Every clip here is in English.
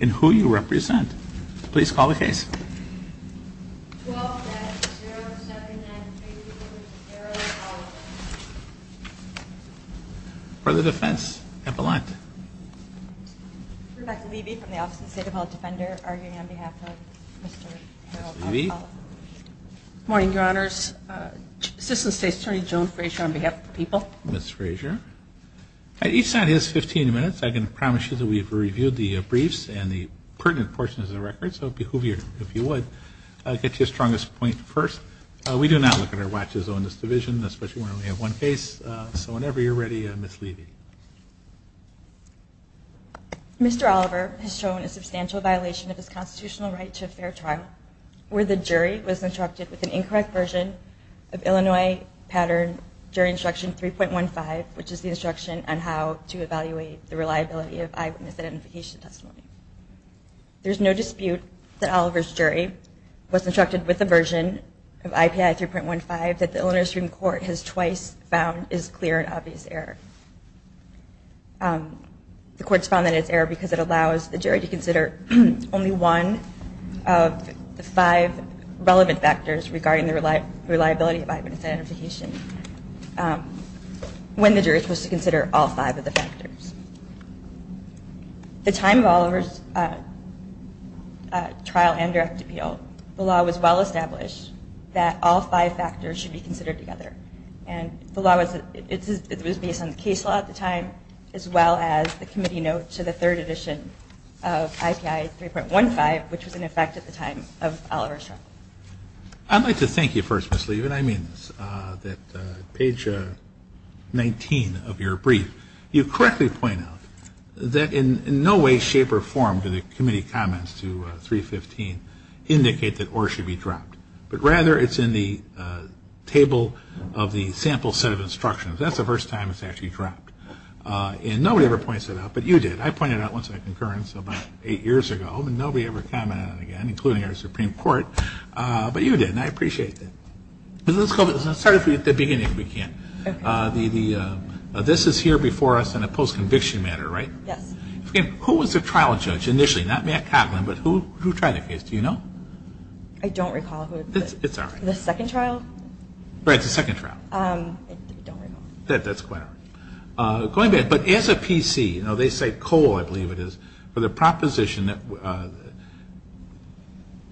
and who you represent. Please call the case. For the defense, Epelante. Good morning, your honors. Assistant State's Attorney Joan Frazier on behalf of the people. Ms. Frazier. Each side has 15 minutes. I can promise you that we've reviewed the briefs and the pertinent portions of the record. So if you would, I'll get to your strongest point first. We do not look at our watches on this division, especially when we have one case. So whenever you're ready, Ms. Levy. Mr. Oliver has shown a substantial violation of his constitutional right to a fair trial, where the jury was interrupted with an incorrect version of Illinois pattern jury instruction 3.15, which is the instruction on how to evaluate the reliability of eyewitness identification testimony. There's no dispute that Oliver's jury was interrupted with a version of IPI 3.15 that the Illinois Supreme Court has twice found is clear and obvious error. The court's found that it's error because it allows the jury to consider only one of the five relevant factors regarding the reliability of eyewitness identification when the jury is supposed to consider all five of the factors. The time of Oliver's trial and direct appeal, the law was well established that all five factors should be considered together. And the law was based on the case law at the time, as well as the committee note to the third edition of IPI 3.15, which was in effect at the time of Oliver's trial. I'd like to thank you first, Ms. Levy. And I mean this, that page 19 of your brief, you correctly point out that in no way, shape, or form do the committee comments to 3.15 indicate that or should be dropped. But rather, it's in the table of the sample set of instructions. That's the first time it's actually dropped. And nobody ever points it out, but you did. I pointed it out once in a concurrence about eight years ago, and nobody ever commented on it again, including our Supreme Court. But you did, and I appreciate that. Let's start at the beginning if we can. This is here before us in a post-conviction matter, right? Yes. Who was the trial judge initially? Not Matt Cotlin, but who tried the case? Do you know? I don't recall. It's all right. The second trial? Right, the second trial. I don't recall. That's quite all right. Going back, but as a PC, they say Cole, I believe it is, for the proposition that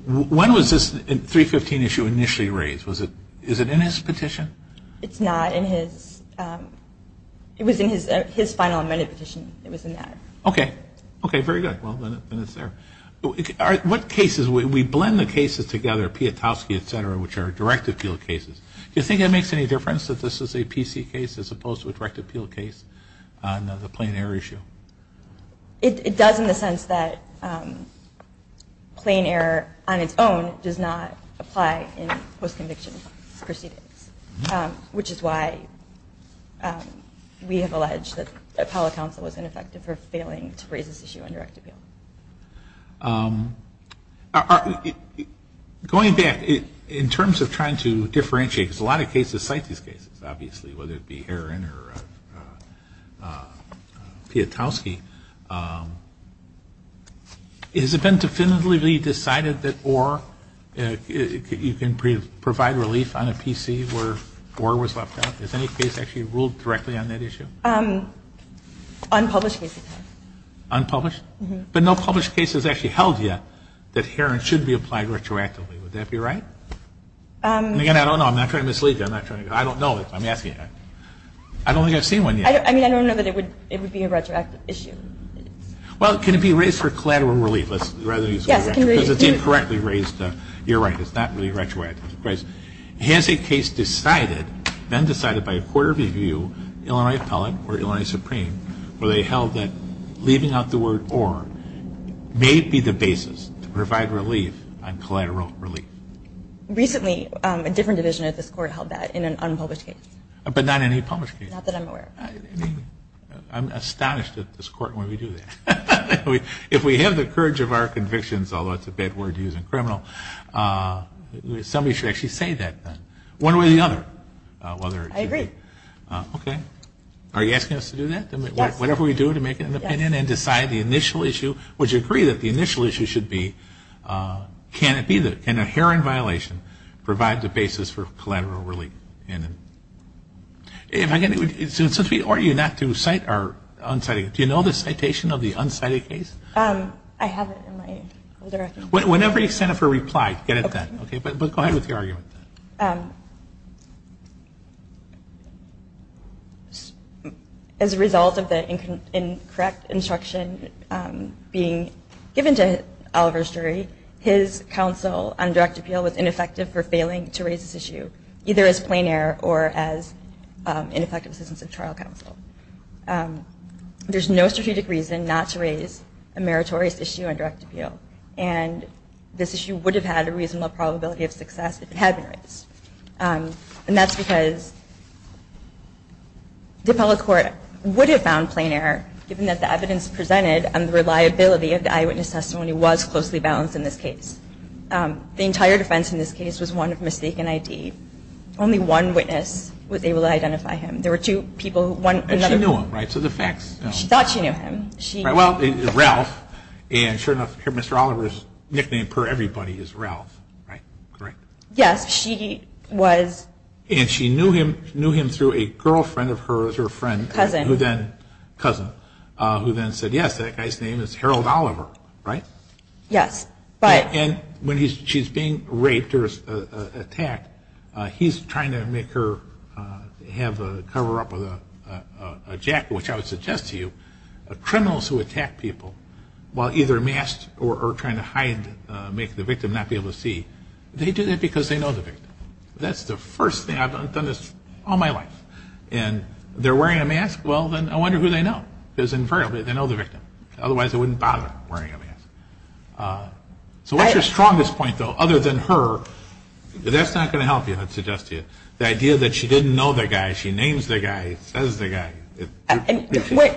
when was this 315 issue initially raised? Is it in his petition? It's not in his. It was in his final amended petition. It was in that. Okay. Okay, very good. Well, then it's there. What cases, we blend the cases together, Piotrowski, et cetera, which are directive field cases. Do you think it makes any difference that this is a PC case as opposed to a direct appeal case on the plain error issue? It does in the sense that plain error on its own does not apply in post-conviction proceedings, which is why we have alleged that the appellate counsel was ineffective for failing to raise this issue on direct appeal. Going back, in terms of trying to differentiate, because a lot of cases cite these cases, obviously, whether it be Herron or Piotrowski. Has it been definitively decided that you can provide relief on a PC where Orr was left out? Has any case actually ruled directly on that issue? Unpublished. Unpublished? But no published case has actually held yet that Herron should be applied retroactively. Would that be right? Again, I don't know. I'm not trying to mislead you. I don't know. I'm asking you. I don't think I've seen one yet. I mean, I don't know that it would be a retroactive issue. Well, can it be raised for collateral relief? Yes, it can be. Because it's incorrectly raised. You're right. It's not really retroactive. Has a case decided, been decided by a court of review, Illinois appellate or Illinois supreme, where they held that leaving out the word Orr may be the basis to provide relief on collateral relief? Recently, a different division of this court held that in an unpublished case. But not in any published case? Not that I'm aware of. I'm astonished at this court when we do that. If we have the courage of our convictions, although it's a bad word to use in criminal, somebody should actually say that then, one way or the other. I agree. Okay. Are you asking us to do that? Yes. Whatever we do to make an opinion and decide the initial issue, would you agree that the initial issue should be, can a heroin violation provide the basis for collateral relief? Since we ordered you not to cite our unsighted case, do you know the citation of the unsighted case? I have it in my. Whenever you send up a reply, get it then. Okay, but go ahead with your argument. As a result of the incorrect instruction being given to Oliver's jury, his counsel on direct appeal was ineffective for failing to raise this issue, either as plain error or as ineffective assistance of trial counsel. There's no strategic reason not to raise a meritorious issue on direct appeal, and this issue would have had a reasonable probability of success if it had been raised. And that's because DiPella Court would have found plain error, given that the evidence presented and the reliability of the eyewitness testimony was closely balanced in this case. The entire defense in this case was one of mistaken ID. Only one witness was able to identify him. There were two people who wanted another. And she knew him, right? So the facts. She thought she knew him. Well, Ralph, and sure enough, Mr. Oliver's nickname per everybody is Ralph, right? Correct? Yes, she was. And she knew him through a girlfriend of hers, her friend. Cousin. Cousin, who then said, yes, that guy's name is Harold Oliver, right? Yes, but. And when she's being raped or attacked, he's trying to make her have a cover-up of a jacket, which I would suggest to you, criminals who attack people while either masked or trying to hide, make the victim not be able to see, they do that because they know the victim. That's the first thing. I've done this all my life. And they're wearing a mask? Well, then I wonder who they know. Because invariably, they know the victim. Otherwise, they wouldn't bother wearing a mask. So what's your strongest point, though, other than her? That's not going to help you, I'd suggest to you. The idea that she didn't know the guy, she names the guy, says the guy.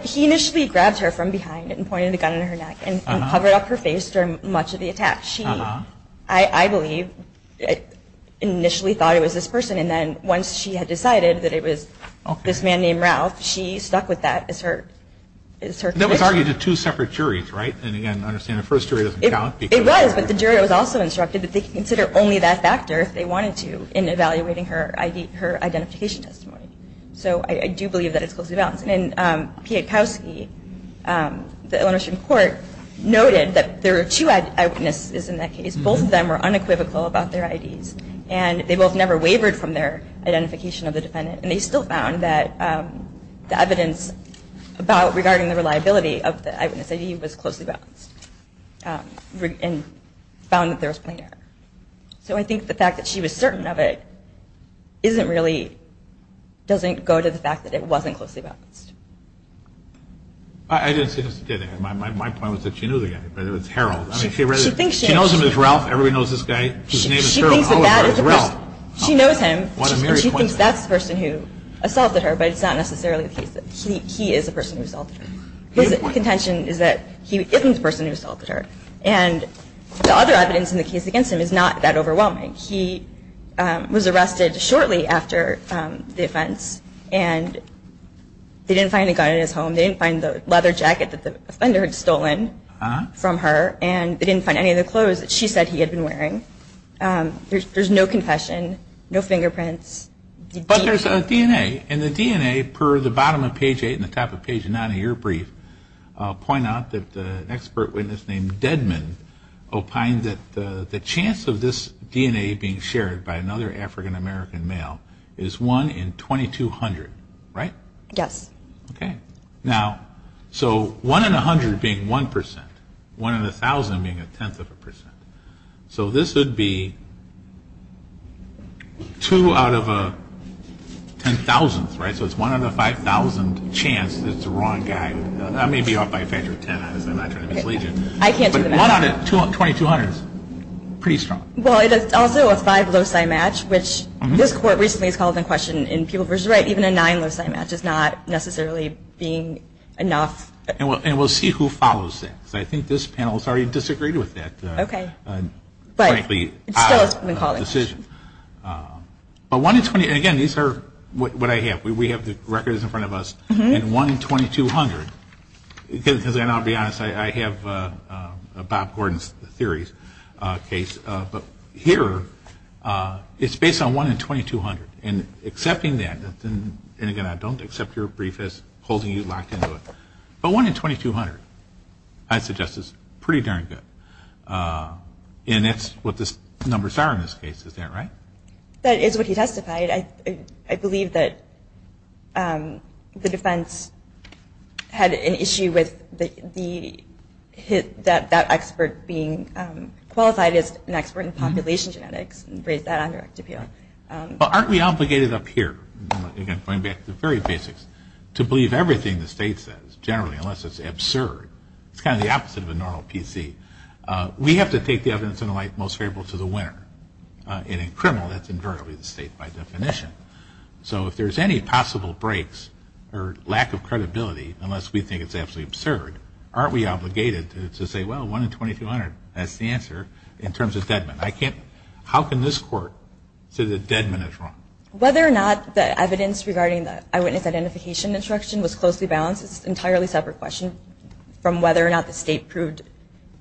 He initially grabs her from behind and pointed a gun at her neck and covered up her face during much of the attack. She, I believe, initially thought it was this person, and then once she had decided that it was this man named Ralph, she stuck with that as her conviction. That was argued to two separate juries, right? And, again, I understand the first jury doesn't count. It was, but the jury was also instructed that they could consider only that factor if they wanted to in evaluating her identification testimony. So I do believe that it's closely balanced. And Pietkowski, the Illinois Supreme Court, noted that there are two eyewitnesses in that case. Both of them were unequivocal about their IDs, and they both never wavered from their identification of the defendant. And they still found that the evidence about regarding the reliability of the eyewitness ID was closely balanced and found that there was plain error. So I think the fact that she was certain of it isn't really, doesn't go to the fact that it wasn't closely balanced. I didn't see this today. My point was that she knew the guy, but it was Harold. She knows him as Ralph. Everybody knows this guy. His name is Harold. Oh, it was Ralph. She knows him. She thinks that's the person who assaulted her, but it's not necessarily the case that he is the person who assaulted her. His contention is that he isn't the person who assaulted her. And the other evidence in the case against him is not that overwhelming. He was arrested shortly after the offense, and they didn't find a gun in his home. They didn't find the leather jacket that the offender had stolen from her, and they didn't find any of the clothes that she said he had been wearing. There's no confession, no fingerprints. But there's a DNA, and the DNA, per the bottom of page 8 and the top of page 9 of your brief, point out that an expert witness named Dedman opined that the chance of this DNA being shared by another African-American male is 1 in 2,200, right? Yes. Okay. Now, so 1 in 100 being 1 percent, 1 in 1,000 being a tenth of a percent. So this would be 2 out of a ten-thousandth, right? So it's 1 out of 5,000 chance that it's the wrong guy. I may be off by a factor of 10. I'm not trying to mislead you. I can't do the math. But 1 out of 2,200 is pretty strong. Well, it is also a 5 loci match, which this court recently has called into question in people versus the right. Even a 9 loci match is not necessarily being enough. And we'll see who follows that, because I think this panel has already disagreed with that. Okay. Frankly, it's out of the decision. But 1 in 20, and again, these are what I have. We have the records in front of us. And 1 in 2,200, because I'll be honest, I have Bob Gordon's theories case. But here, it's based on 1 in 2,200. And accepting that, and again, I don't accept your brief as holding you locked into it. But 1 in 2,200, I suggest, is pretty darn good. And that's what the numbers are in this case. Is that right? That is what he testified. I believe that the defense had an issue with that expert being qualified as an expert in population genetics and raised that on direct appeal. Well, aren't we obligated up here, again, going back to the very basics, to believe everything the state says, generally, unless it's absurd. It's kind of the opposite of a normal PC. We have to take the evidence in the light most favorable to the winner. And in criminal, that's invariably the state by definition. So if there's any possible breaks or lack of credibility, unless we think it's absolutely absurd, aren't we obligated to say, well, 1 in 2,200, that's the answer, in terms of Dedman. How can this court say that Dedman is wrong? Whether or not the evidence regarding the eyewitness identification instruction was closely balanced, it's an entirely separate question from whether or not the state proved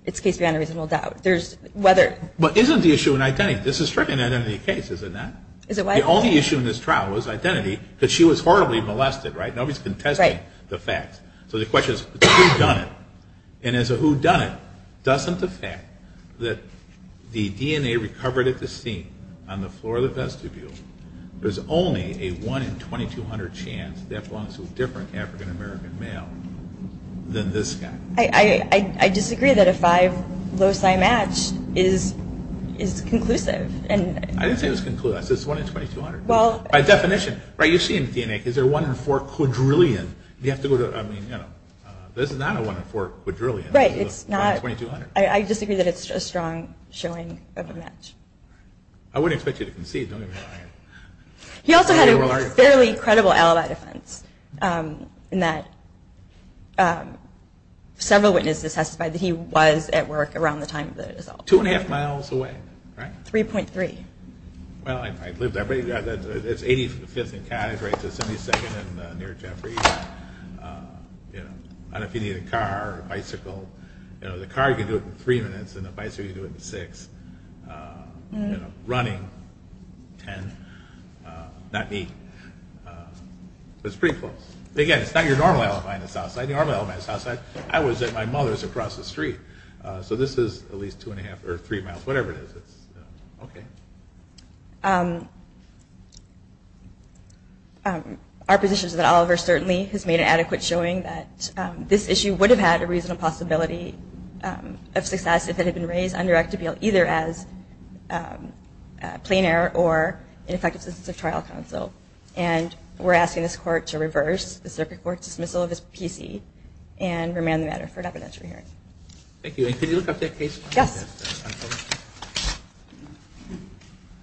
its case beyond a reasonable doubt. But isn't the issue in identity? This is strictly an identity case, is it not? The only issue in this trial was identity, because she was horribly molested, right? Nobody's contesting the facts. So the question is, who done it? And as a whodunit, doesn't the fact that the DNA recovered at the scene, on the floor of the vestibule, there's only a 1 in 2,200 chance that belongs to a different African-American male than this guy? I disagree that a 5 loci match is conclusive. I didn't say it was conclusive. I said it's 1 in 2,200. By definition, right, you see in the DNA, because there are 1 in 4 quadrillion. This is not a 1 in 4 quadrillion. Right, I disagree that it's a strong showing of a match. I wouldn't expect you to concede. He also had a fairly credible alibi defense in that several witnesses testified that he was at work around the time of the assault. Two and a half miles away, right? 3.3. Well, I'd live that way. It's 85th and Cottage, right to 72nd and near Jeffrey. I don't know if you need a car or a bicycle. The car you can do it in 3 minutes and the bicycle you can do it in 6. Running, 10. Not neat. But it's pretty close. Again, it's not your normal alibi in the South Side. The normal alibi in the South Side, I was at my mother's across the street. So this is at least two and a half or three miles, whatever it is. Okay. Our position is that Oliver certainly has made an adequate showing that this issue would have had a reasonable possibility of success if it had been raised under Act of Appeal either as a plain error or ineffective assistance of trial counsel. And we're asking this Court to reverse the circuit court dismissal of his PC and remand the matter for an evidentiary hearing. Thank you. And could you look up that case? Yes.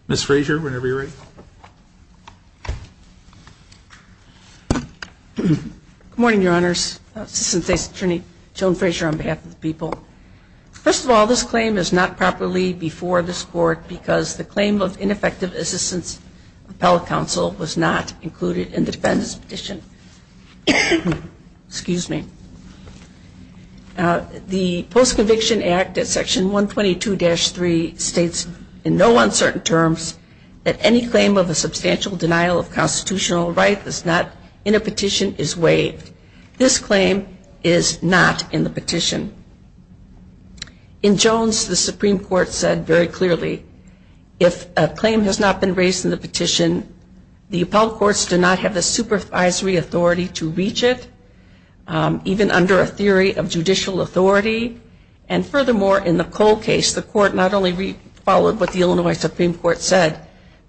Ms. Frazier, whenever you're ready. Good morning, Your Honors. Assistant State's Attorney Joan Frazier on behalf of the people. First of all, this claim is not properly before this Court because the claim of ineffective assistance of appellate counsel was not included in the defendant's petition. Excuse me. The Post-Conviction Act at Section 122-3 states in no uncertain terms that any claim of a substantial denial of constitutional right that's not in a petition is waived. This claim is not in the petition. In Jones, the Supreme Court said very clearly if a claim has not been raised in the petition, the appellate courts do not have the supervisory authority to reach it, even under a theory of judicial authority. And furthermore, in the Cole case, the Court not only followed what the Illinois Supreme Court said,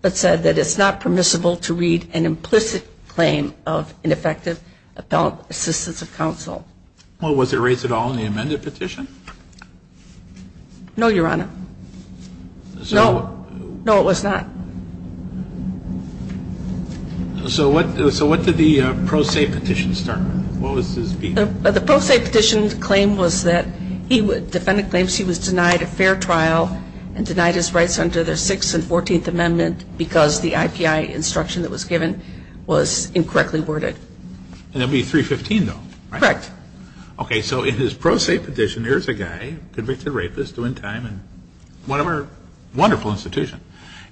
but said that it's not permissible to read an implicit claim of ineffective appellate assistance of counsel. Well, was it raised at all in the amended petition? No, Your Honor. No. No, it was not. So what did the pro se petition start with? The pro se petition's claim was that the defendant claims he was denied a fair trial and denied his rights under the Sixth and Fourteenth Amendment because the IPI instruction that was given was incorrectly worded. And that would be 315, though, right? Correct. Okay. So in his pro se petition, here's a guy, convicted rapist, doing time in one of our wonderful institutions,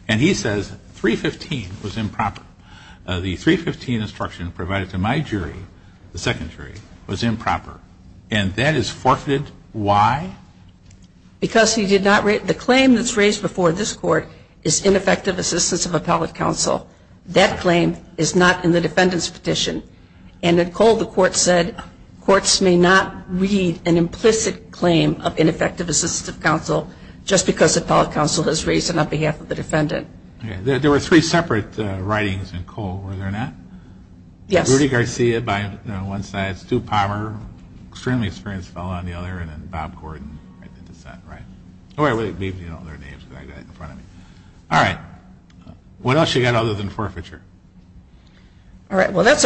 and he says 315 was improper. The 315 instruction provided to my jury, the second jury, was improper. And that is forfeited. Why? Because the claim that's raised before this Court is ineffective assistance of appellate counsel. That claim is not in the defendant's petition. And in Cole, the Court said courts may not read an implicit claim of ineffective assistance of counsel just because appellate counsel has raised it on behalf of the defendant. There were three separate writings in Cole, were there not? Yes. Rudy Garcia by one side, Stu Palmer, extremely experienced fellow on the other, and then Bob Gordon. All right. What else you got other than forfeiture? All right. Well, that's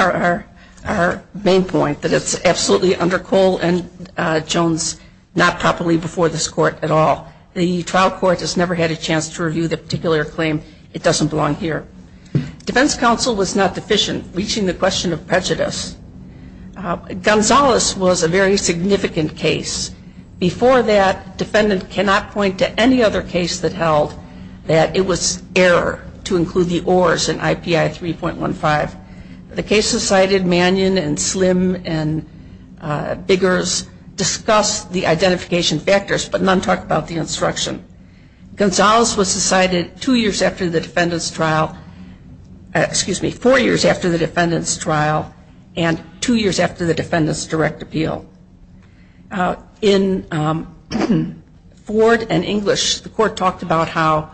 our main point, that it's absolutely under Cole and Jones, not properly before this Court at all. The trial court has never had a chance to review the particular claim. It doesn't belong here. Defense counsel was not deficient, reaching the question of prejudice. Gonzales was a very significant case. Before that, defendant cannot point to any other case that held that it was error to include the ORs in IPI 3.15. The case decided Mannion and Slim and Biggers discussed the identification factors, but none talked about the instruction. Gonzales was decided two years after the defendant's trial, excuse me, four years after the defendant's trial, and two years after the defendant's direct appeal. In Ford and English, the Court talked about how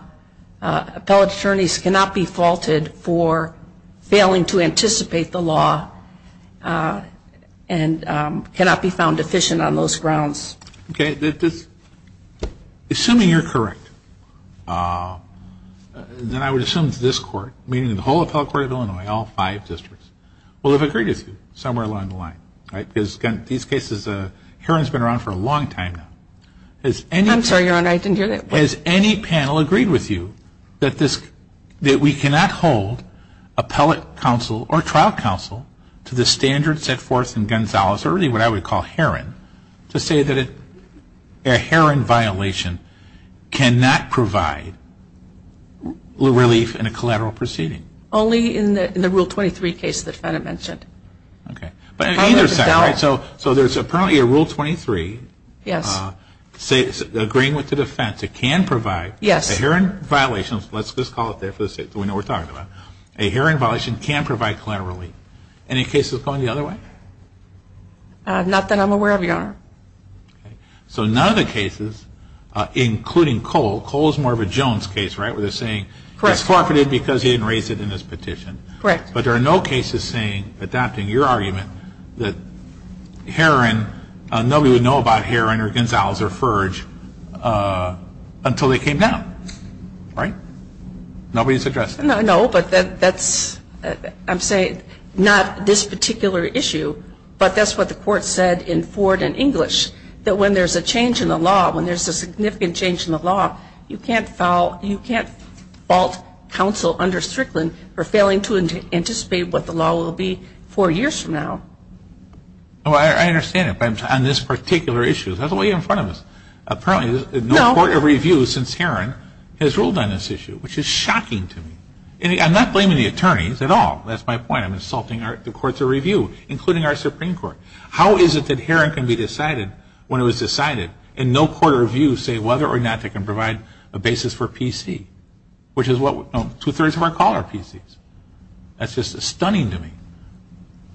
appellate attorneys cannot be faulted for failing to anticipate the law and cannot be found deficient on those grounds. Okay. Assuming you're correct, then I would assume that this Court, meaning the whole appellate court of Illinois, all five districts, will have agreed with you somewhere along the line, right? Because, again, these cases, Herron's been around for a long time now. I'm sorry, Your Honor, I didn't hear that. Has any panel agreed with you that we cannot hold appellate counsel or trial counsel to the standards set forth in Gonzales, or really what I would call Herron, to say that a Herron violation cannot provide relief in a collateral proceeding? Only in the Rule 23 case the defendant mentioned. Okay. But either side, right? So there's apparently a Rule 23. Yes. Agreeing with the defense, it can provide. Yes. A Herron violation, let's just call it there for the sake of it, we know what we're talking about. A Herron violation can provide collateral relief. Any cases going the other way? Not that I'm aware of, Your Honor. Okay. So none of the cases, including Cole, Cole is more of a Jones case, right, where they're saying it's forfeited because he didn't raise it in his petition. Correct. But there are no cases saying, adapting your argument, that Herron, nobody would know about Herron or Gonzales or Furge until they came down. Right? Nobody's addressed it. No, but that's, I'm saying, not this particular issue, but that's what the court said in Ford and English, that when there's a change in the law, when there's a significant change in the law, you can't fault counsel under Strickland for failing to anticipate what the law will be four years from now. I understand it, but on this particular issue, that's why you're in front of us. Apparently, no court of review since Herron has ruled on this issue, which is shocking to me. I'm not blaming the attorneys at all. That's my point. I'm insulting the courts of review, including our Supreme Court. How is it that Herron can be decided when it was decided and no court of review say whether or not they can provide a basis for PC, which is what two-thirds of our call are PCs? That's just stunning to me.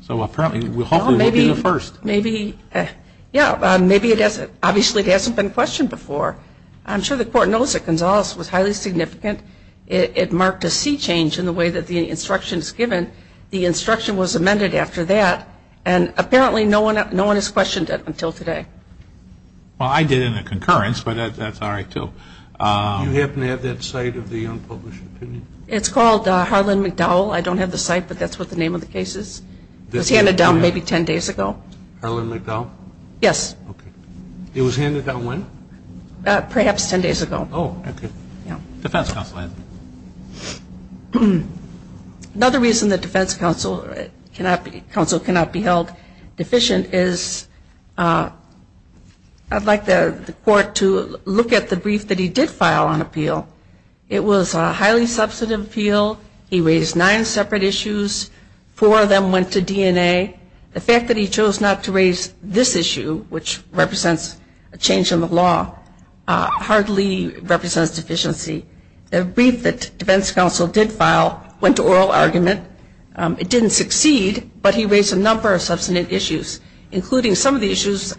So apparently, hopefully, we'll be the first. Maybe, yeah, obviously it hasn't been questioned before. I'm sure the court knows that Gonzales was highly significant. It marked a sea change in the way that the instruction is given. The instruction was amended after that, and apparently no one has questioned it until today. Well, I did in a concurrence, but that's all right, too. Do you happen to have that site of the unpublished opinion? It's called Harlan McDowell. I don't have the site, but that's what the name of the case is. It was handed down maybe 10 days ago. Harlan McDowell? Yes. Okay. It was handed down when? Perhaps 10 days ago. Oh, okay. Yeah. Defense counsel, Anthony. Another reason the defense counsel cannot be held deficient is I'd like the court to look at the brief that he did file on appeal. It was a highly substantive appeal. He raised nine separate issues. Four of them went to DNA. The fact that he chose not to raise this issue, which represents a change in the law, hardly represents deficiency. The brief that defense counsel did file went to oral argument. It didn't succeed, but he raised a number of substantive issues, including some of the issues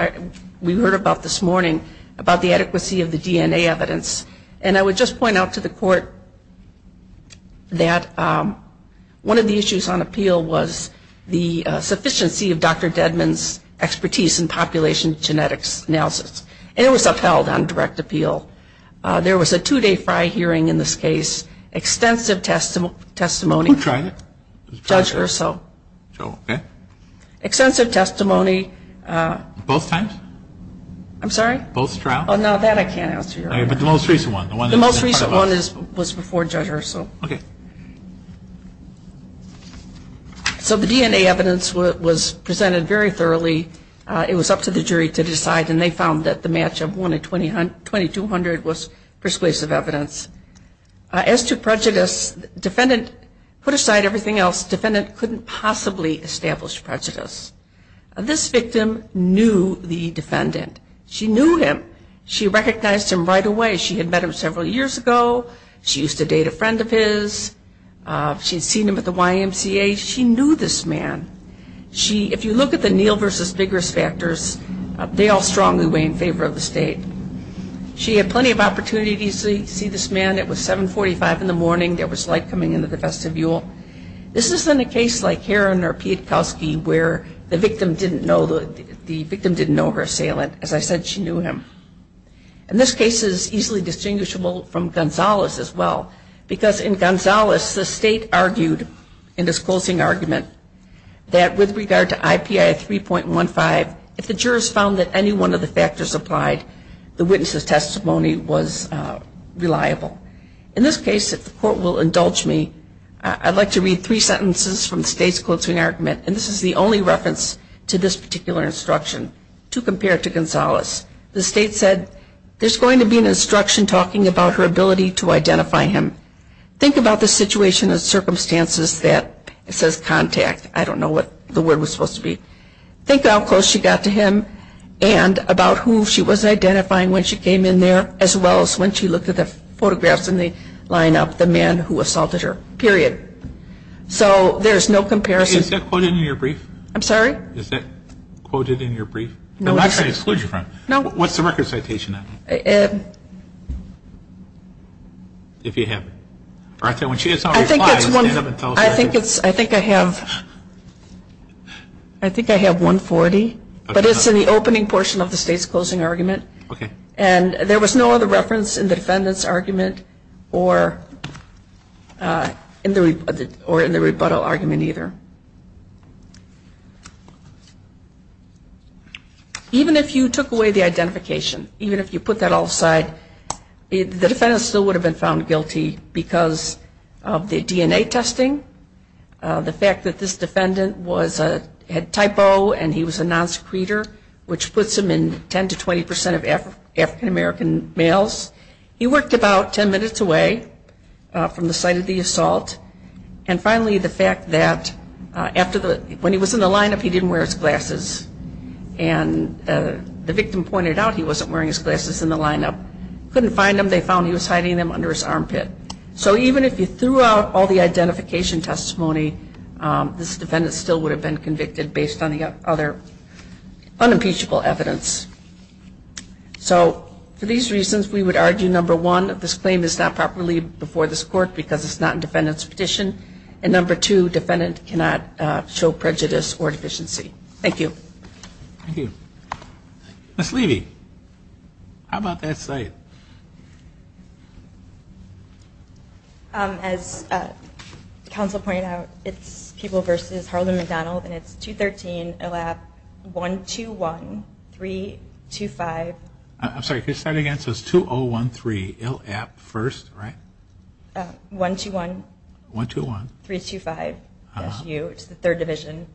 we heard about this morning, about the adequacy of the DNA evidence. And I would just point out to the court that one of the issues on appeal was the sufficiency of Dr. Dedman's expertise in population genetics analysis. And it was upheld on direct appeal. There was a two-day FRI hearing in this case. Extensive testimony. Who tried it? Judge Urso. Okay. Extensive testimony. Both times? I'm sorry? Both trials? Oh, no, that I can't answer. But the most recent one? The most recent one was before Judge Urso. Okay. So the DNA evidence was presented very thoroughly. It was up to the jury to decide, and they found that the match of one and 2,200 was persuasive evidence. As to prejudice, defendant put aside everything else. Defendant couldn't possibly establish prejudice. This victim knew the defendant. She knew him. She recognized him right away. She had met him several years ago. She used to date a friend of his. She had seen him at the YMCA. She knew this man. If you look at the Neal versus Biggers factors, they all strongly weigh in favor of the state. She had plenty of opportunities to see this man. It was 745 in the morning. There was light coming into the vestibule. This isn't a case like Heron or Pietkowski where the victim didn't know her assailant. As I said, she knew him. And this case is easily distinguishable from Gonzales as well because in Gonzales, the state argued in this closing argument that with regard to IPI 3.15, if the jurors found that any one of the factors applied, the witness's testimony was reliable. In this case, if the court will indulge me, I'd like to read three sentences from the state's closing argument, and this is the only reference to this particular instruction to compare to Gonzales. The state said, there's going to be an instruction talking about her ability to identify him. Think about the situation and circumstances that it says contact. I don't know what the word was supposed to be. Think how close she got to him and about who she was identifying when she came in there as well as when she looked at the photographs in the lineup, the man who assaulted her, period. So there's no comparison. Is that quoted in your brief? I'm sorry? Is that quoted in your brief? I'm not trying to exclude you from it. No. What's the record citation on it? If you have it. Martha, when she does not reply, stand up and tell us. I think it's, I think I have, I think I have 140, but it's in the opening portion of the state's closing argument. Okay. And there was no other reference in the defendant's argument or in the rebuttal argument either. Even if you took away the identification, even if you put that all aside, the defendant still would have been found guilty because of the DNA testing, the fact that this defendant had type O and he was a non-secreter, which puts him in 10 to 20 percent of African-American males. He worked about 10 minutes away from the site of the assault. And finally, the fact that when he was in the lineup, he didn't wear his glasses. And the victim pointed out he wasn't wearing his glasses in the lineup. Couldn't find him. They found he was hiding them under his armpit. So even if you threw out all the identification testimony, this defendant still would have been convicted based on the other unimpeachable evidence. So for these reasons, we would argue, number one, this claim is not properly before this court because it's not in defendant's petition. And number two, defendant cannot show prejudice or deficiency. Thank you. Thank you. Ms. Levy, how about that site? As counsel pointed out, it's People v. Harlan McDonald, and it's 213, ILAP, 121, 325. I'm sorry, could you start again? So it's 2013, ILAP first, right? 121. 121. 325. It's the third division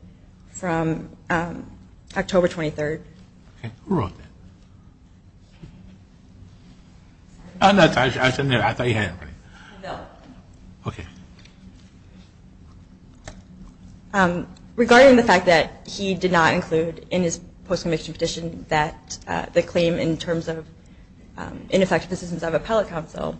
from October 23rd. Okay. Who wrote that? Oh, Natasha, I was sitting there. I thought you had it. No. Okay. Regarding the fact that he did not include in his post-conviction petition that the claim in terms of ineffective assistance of appellate counsel,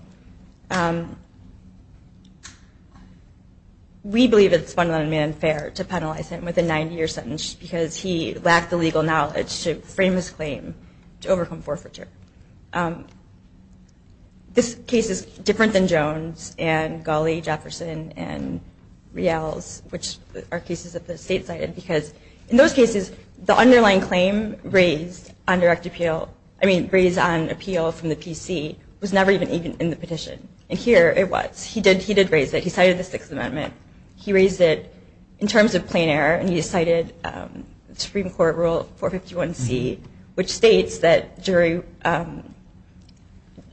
we believe it's fundamentally unfair to penalize him with a 90-year sentence because he lacked the legal knowledge to frame his claim to overcome forfeiture. This case is different than Jones and Gawley, Jefferson, and Rial's, which are cases that the state cited, because in those cases the underlying claim raised on direct appeal, I mean raised on appeal from the PC, was never even in the petition. And here it was. He did raise it. He cited the Sixth Amendment. He raised it in terms of plain error, and he cited Supreme Court Rule 451C, which states that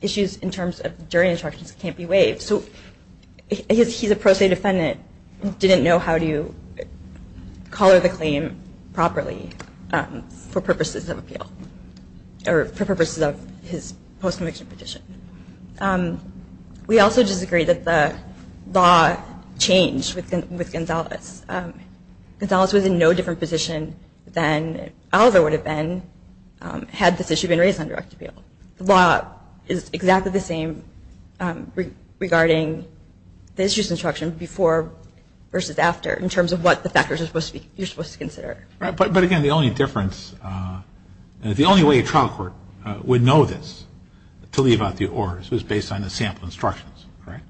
issues in terms of jury instructions can't be waived. So he's a pro se defendant, didn't know how to color the claim properly for purposes of appeal or for purposes of his post-conviction petition. We also disagree that the law changed with Gonzales. Gonzales was in no different position than Oliver would have been had this issue been raised on direct appeal. The law is exactly the same regarding the issues instruction before versus after in terms of what the factors you're supposed to consider. But again, the only difference, and the only way a trial court would know this, to leave out the ors, was based on the sample instructions, right?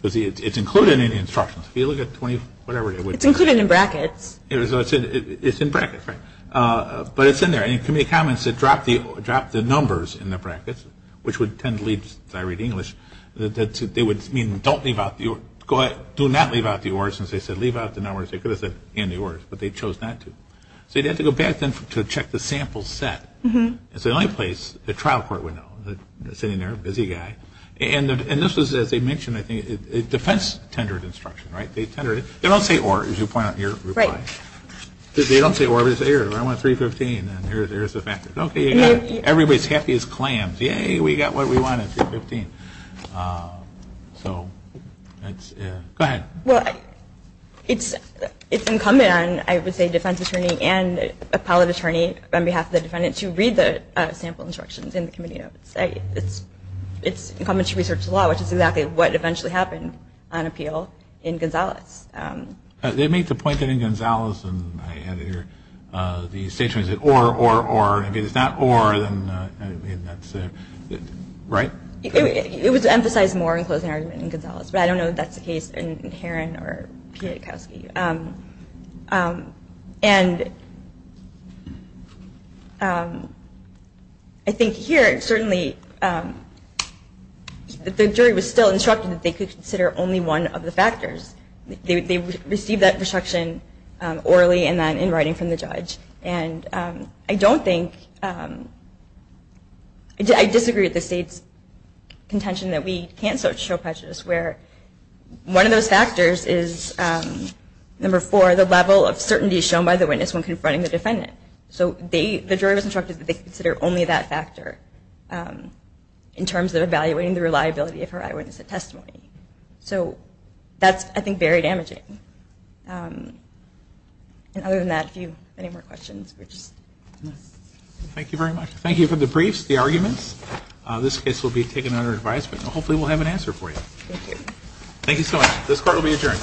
Because it's included in the instructions. If you look at 20, whatever it is. It's included in brackets. It's in brackets, right? But it's in there. And in committee comments it dropped the numbers in the brackets, which would tend to lead, since I read English, that they would mean don't leave out the ors, go ahead, do not leave out the ors, since they said leave out the numbers. They could have said and the ors, but they chose not to. So you'd have to go back then to check the sample set. It's the only place a trial court would know. Sitting there, busy guy. And this was, as they mentioned, I think, defense-tendered instruction, right? They tendered it. They don't say or, as you point out in your reply. They don't say or. They say, I want 315, and here's the factors. Okay, everybody's happy as clams. Yay, we got what we wanted, 315. So go ahead. Well, it's incumbent on, I would say, defense attorney and appellate attorney on behalf of the defendant to read the sample instructions in the committee notes. It's incumbent to research the law, which is exactly what eventually happened on appeal in Gonzales. They made the point that in Gonzales, and I had to hear the State Attorney say or, or, or. If it's not or, then that's it. Right? It was emphasized more in closing argument in Gonzales, but I don't know if that's the case in Heron or Piotrkowski. And I think here, certainly, the jury was still instructed that they could consider only one of the factors. They received that instruction orally and then in writing from the judge. And I don't think, I disagree with the State's contention that we can't show prejudice where one of those factors is, number four, the level of certainty shown by the witness when confronting the defendant. So the jury was instructed that they could consider only that factor in terms of evaluating the reliability of her eyewitness testimony. So that's, I think, very damaging. And other than that, if you have any more questions. Thank you very much. Thank you for the briefs, the arguments. This case will be taken under advice, but hopefully we'll have an answer for you. Thank you. Thank you so much. This court will be adjourned.